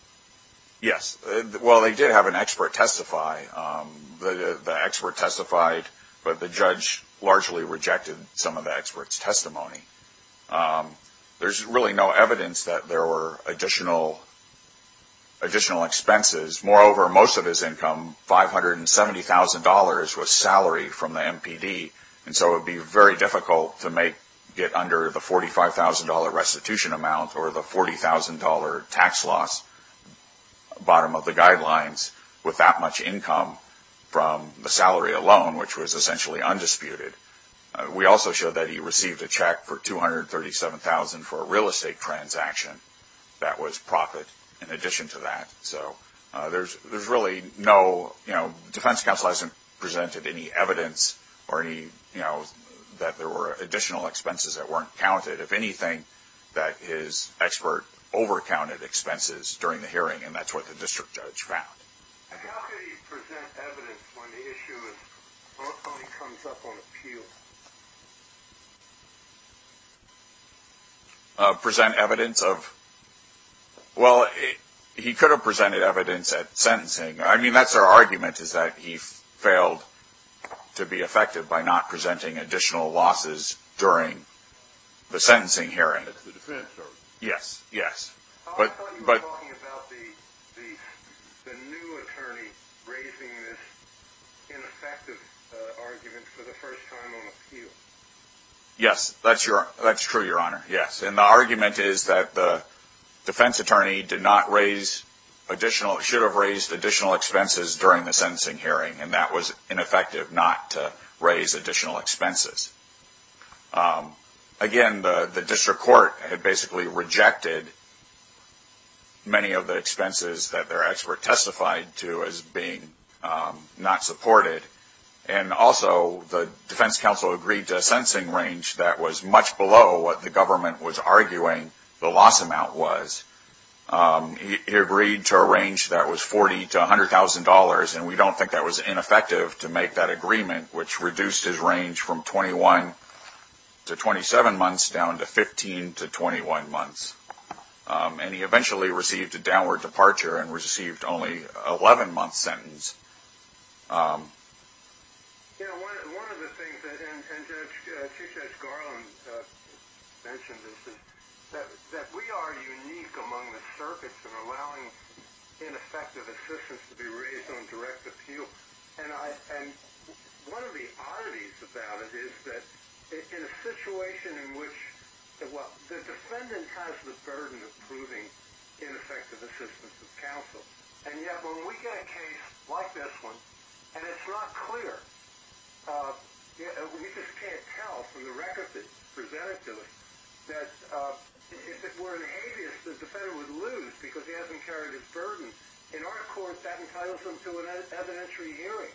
Yes. Well, they did have an expert testify. The expert testified, but the judge largely rejected some of the expert's testimony. There's really no evidence that there were additional expenses. Moreover, most of his income, $570,000, was salary from the MPD, and so it would be very difficult to get under the $45,000 restitution amount or the $40,000 tax loss bottom of the guidelines with that much income from the salary alone, which was essentially undisputed. We also showed that he received a check for $237,000 for a real estate transaction. That was profit in addition to that. So there's really no, you know, defense counsel hasn't presented any evidence that there were additional expenses that weren't counted. If anything, that his expert over-counted expenses during the hearing, and that's what the district judge found. How could he present evidence when the issue is both how he comes up on appeal? Present evidence of? Well, he could have presented evidence at sentencing. I mean, that's our argument is that he failed to be effective by not presenting additional losses during the sentencing hearing. That's the defense argument. Yes, yes. I thought you were talking about the new attorney raising this ineffective argument for the first time on appeal. Yes, that's true, Your Honor, yes. And the argument is that the defense attorney did not raise additional, should have raised additional expenses during the sentencing hearing, and that was ineffective not to raise additional expenses. Again, the district court had basically rejected many of the expenses that their expert testified to as being not supported, and also the defense counsel agreed to a sentencing range that was much below what the government was arguing the loss amount was. He agreed to a range that was $40,000 to $100,000, and we don't think that was ineffective to make that agreement, which reduced his range from 21 to 27 months down to 15 to 21 months. And he eventually received a downward departure and received only an 11-month sentence. One of the things, and Judge Garland mentioned this, is that we are unique among the circuits of allowing ineffective assistance to be raised on direct appeal. And one of the oddities about it is that in a situation in which the defendant has the burden of proving ineffective assistance of counsel, and yet when we get a case like this one and it's not clear, we just can't tell from the record that's presented to us that if it were an habeas, the defendant would lose because he hasn't carried his burden. In our court, that entitles them to an evidentiary hearing.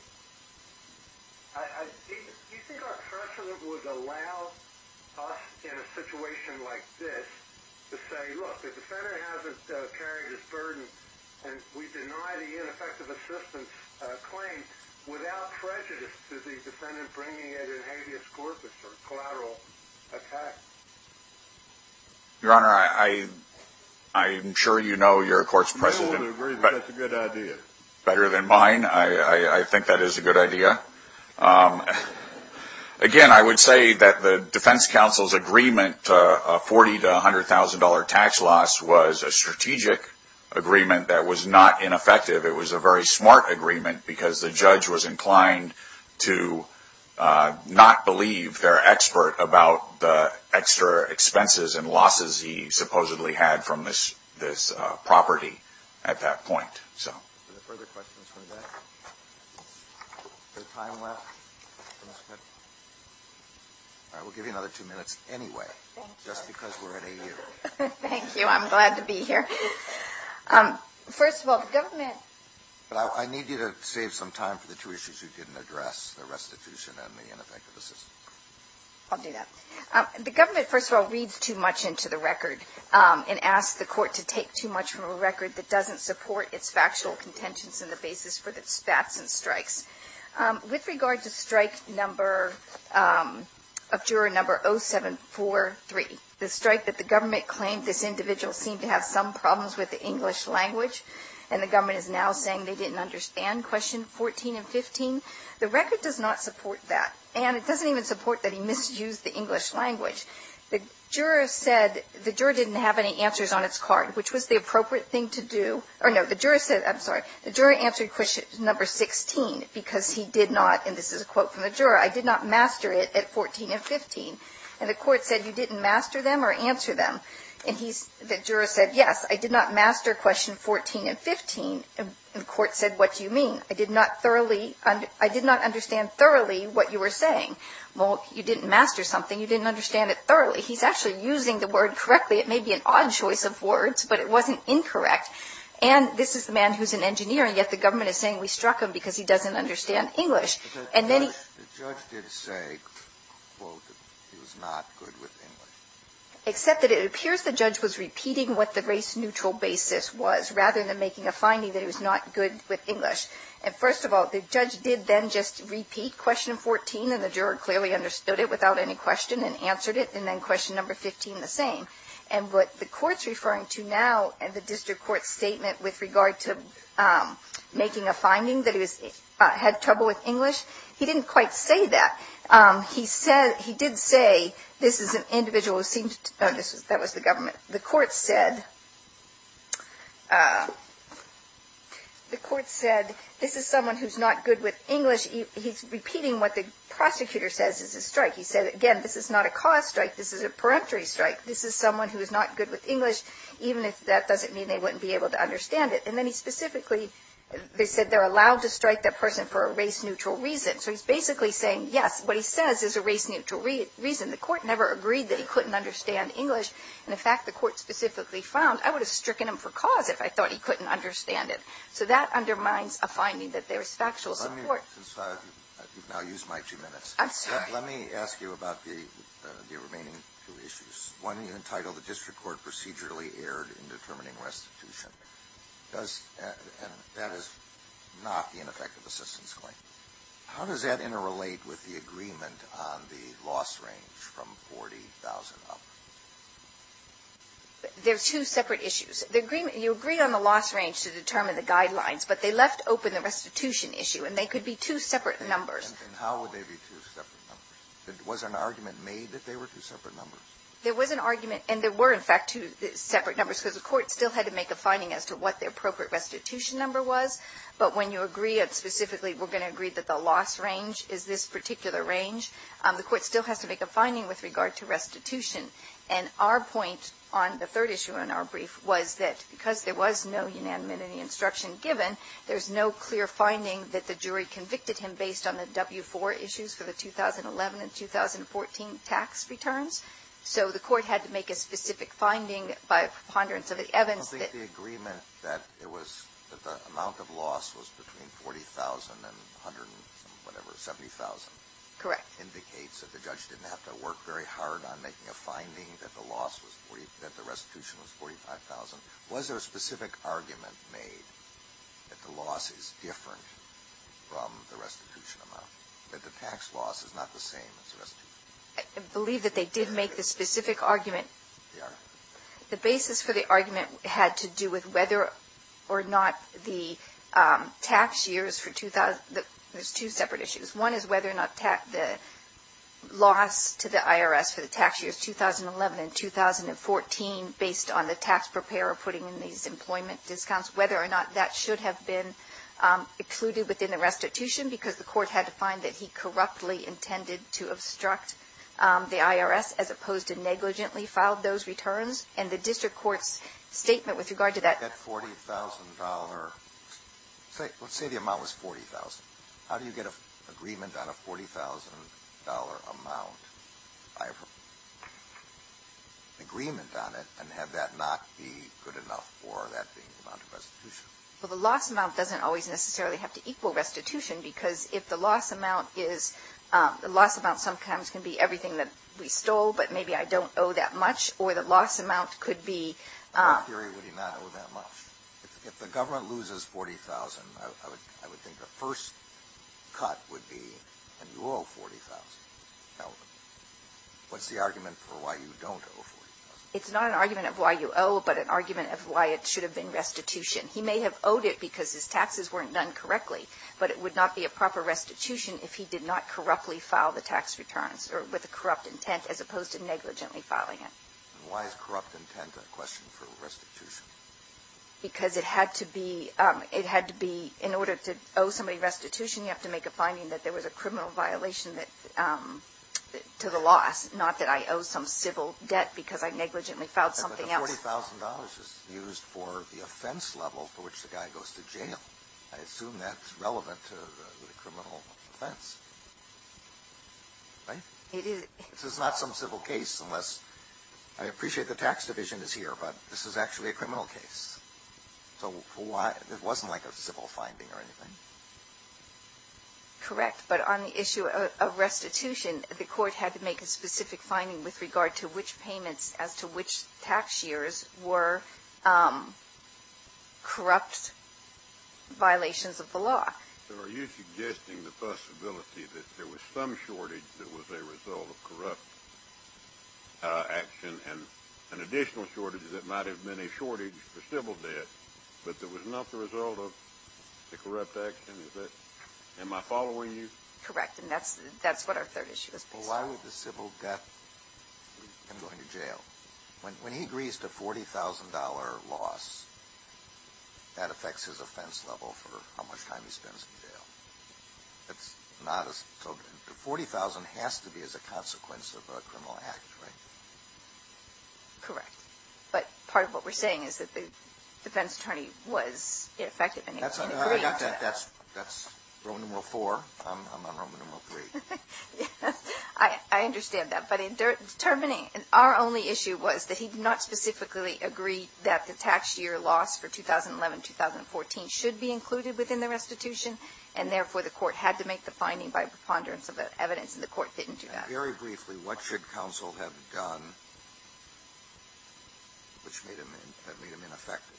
Do you think our precedent would allow us in a situation like this to say, look, the defendant hasn't carried his burden, and we deny the ineffective assistance claim without prejudice to the defendant bringing an habeas corpus or collateral attack? Your Honor, I'm sure you know your court's precedent better than mine. I think that is a good idea. Again, I would say that the defense counsel's agreement, a $40,000 to $100,000 tax loss, was a strategic agreement that was not ineffective. It was a very smart agreement because the judge was inclined to not believe they're an expert about the extra expenses and losses he supposedly had from this property at that point. Are there further questions for today? Is there time left? All right, we'll give you another two minutes anyway, just because we're at AU. Thank you. I'm glad to be here. First of all, the government – I need you to save some time for the two issues you didn't address, the restitution and the ineffective assistance. I'll do that. The government, first of all, reads too much into the record and asks the court to take too much from a record that doesn't support its factual contentions in the basis for the spats and strikes. With regard to strike number – of juror number 0743, the strike that the government claimed this individual seemed to have some problems with the English language, and the government is now saying they didn't understand question 14 and 15, the record does not support that. And it doesn't even support that he misused the English language. The juror said – the juror didn't have any answers on its card, which was the appropriate thing to do – or, no, the juror said – I'm sorry. The juror answered question number 16 because he did not – and this is a quote from the juror – I did not master it at 14 and 15. And the court said you didn't master them or answer them. And he – the juror said, yes, I did not master question 14 and 15. And the court said, what do you mean? I did not thoroughly – I did not understand thoroughly what you were saying. Well, you didn't master something. You didn't understand it thoroughly. He's actually using the word correctly. It may be an odd choice of words, but it wasn't incorrect. And this is the man who's an engineer, and yet the government is saying we struck him because he doesn't understand English. And then he – The judge did say, quote, that he was not good with English. Except that it appears the judge was repeating what the race-neutral basis was, rather than making a finding that he was not good with English. And, first of all, the judge did then just repeat question 14, and the juror clearly understood it without any question and answered it, and then question number 15 the same. And what the court's referring to now in the district court statement with regard to making a finding that he had trouble with English, he didn't quite say that. He said – he did say, this is an individual who seems to – that was the government. The court said – the court said, this is someone who's not good with English. He's repeating what the prosecutor says is a strike. He said, again, this is not a cause strike. This is a peremptory strike. This is someone who is not good with English, even if that doesn't mean they wouldn't be able to understand it. And then he specifically – they said they're allowed to strike that person for a race-neutral reason. So he's basically saying, yes, what he says is a race-neutral reason. The court never agreed that he couldn't understand English. And, in fact, the court specifically found, I would have stricken him for cause if I thought he couldn't understand it. So that undermines a finding that there's factual support. Let me – since you've now used my two minutes. I'm sorry. Let me ask you about the remaining two issues. One, you entitled the district court procedurally erred in determining restitution. Does – and that is not the ineffective assistance claim. How does that interrelate with the agreement on the loss range from 40,000 up? There are two separate issues. The agreement – you agree on the loss range to determine the guidelines, but they left open the restitution issue, and they could be two separate numbers. And how would they be two separate numbers? Was an argument made that they were two separate numbers? There was an argument, and there were, in fact, two separate numbers, because the court still had to make a finding as to what the appropriate restitution number was. But when you agree specifically we're going to agree that the loss range is this particular range, the court still has to make a finding with regard to restitution. And our point on the third issue in our brief was that because there was no unanimity instruction given, there's no clear finding that the jury convicted him based on the W-4 issues for the 2011 and 2014 tax returns. So the court had to make a specific finding by a preponderance of the evidence that – The loss was between 40,000 and 170,000. Correct. Indicates that the judge didn't have to work very hard on making a finding that the loss was – that the restitution was 45,000. Was there a specific argument made that the loss is different from the restitution amount, that the tax loss is not the same as the restitution? I believe that they did make the specific argument. They are? The basis for the argument had to do with whether or not the tax years for – there's two separate issues. One is whether or not the loss to the IRS for the tax years 2011 and 2014, based on the tax preparer putting in these employment discounts, whether or not that should have been included within the restitution, because the court had to find that he corruptly intended to obstruct the IRS, as opposed to negligently filed those returns. And the district court's statement with regard to that – Let's say the amount was 40,000. How do you get an agreement on a $40,000 amount? I have an agreement on it, and had that not be good enough for that amount of restitution? Well, the loss amount doesn't always necessarily have to equal restitution because if the loss amount is – the loss amount sometimes can be everything that we stole, but maybe I don't owe that much, or the loss amount could be – In what theory would he not owe that much? If the government loses 40,000, I would think the first cut would be, and you owe 40,000. What's the argument for why you don't owe 40,000? It's not an argument of why you owe, but an argument of why it should have been restitution. He may have owed it because his taxes weren't done correctly, but it would not be a proper restitution if he did not corruptly file the tax returns, or with a corrupt intent as opposed to negligently filing it. Why is corrupt intent a question for restitution? Because it had to be – in order to owe somebody restitution, you have to make a finding that there was a criminal violation to the loss, not that I owe some civil debt because I negligently filed something else. But the $40,000 is used for the offense level for which the guy goes to jail. I assume that's relevant to the criminal offense, right? It is. This is not some civil case unless – I appreciate the tax division is here, but this is actually a criminal case. So it wasn't like a civil finding or anything. Correct. But on the issue of restitution, the court had to make a specific finding with regard to which payments as to which tax years were corrupt violations of the law. So are you suggesting the possibility that there was some shortage that was a result of corrupt action and an additional shortage that might have been a shortage for civil debt, but that was not the result of the corrupt action? Am I following you? Correct. And that's what our third issue is based on. Well, why would the civil debt him going to jail? When he agrees to a $40,000 loss, that affects his offense level for how much time he spends in jail. It's not as – so the $40,000 has to be as a consequence of a criminal act, right? Correct. But part of what we're saying is that the defense attorney was ineffective in agreeing to that. I got that. That's Roman numeral four. I'm on Roman numeral three. Yes. I understand that. But in determining – our only issue was that he did not specifically agree that the tax year loss for 2011-2014 should be included within the restitution, and therefore the court had to make the finding by preponderance of the evidence and the court didn't do that. Very briefly, what should counsel have done which made him ineffective?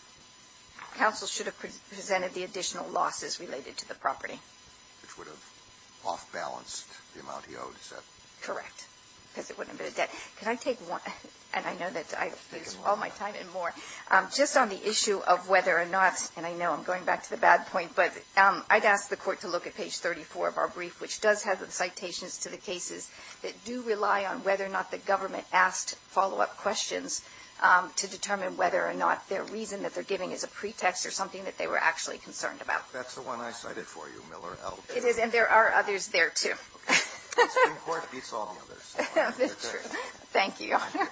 Counsel should have presented the additional losses related to the property. Which would have off-balanced the amount he owed, is that correct? Correct. Because it wouldn't have been a debt. Can I take one? And I know that I've used all my time and more. Just on the issue of whether or not, and I know I'm going back to the bad point, but I'd ask the court to look at page 34 of our brief, which does have the citations to the cases that do rely on whether or not the government asked follow-up questions to determine whether or not their reason that they're giving is a pretext or something that they were actually concerned about. That's the one I cited for you, Miller L. It is, and there are others there, too. Okay. The Supreme Court beats all the others. That's true. Thank you, Your Honor.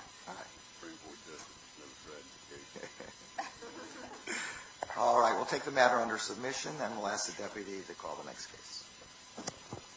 All right. We'll take the matter under submission and we'll ask the deputy to call the next case.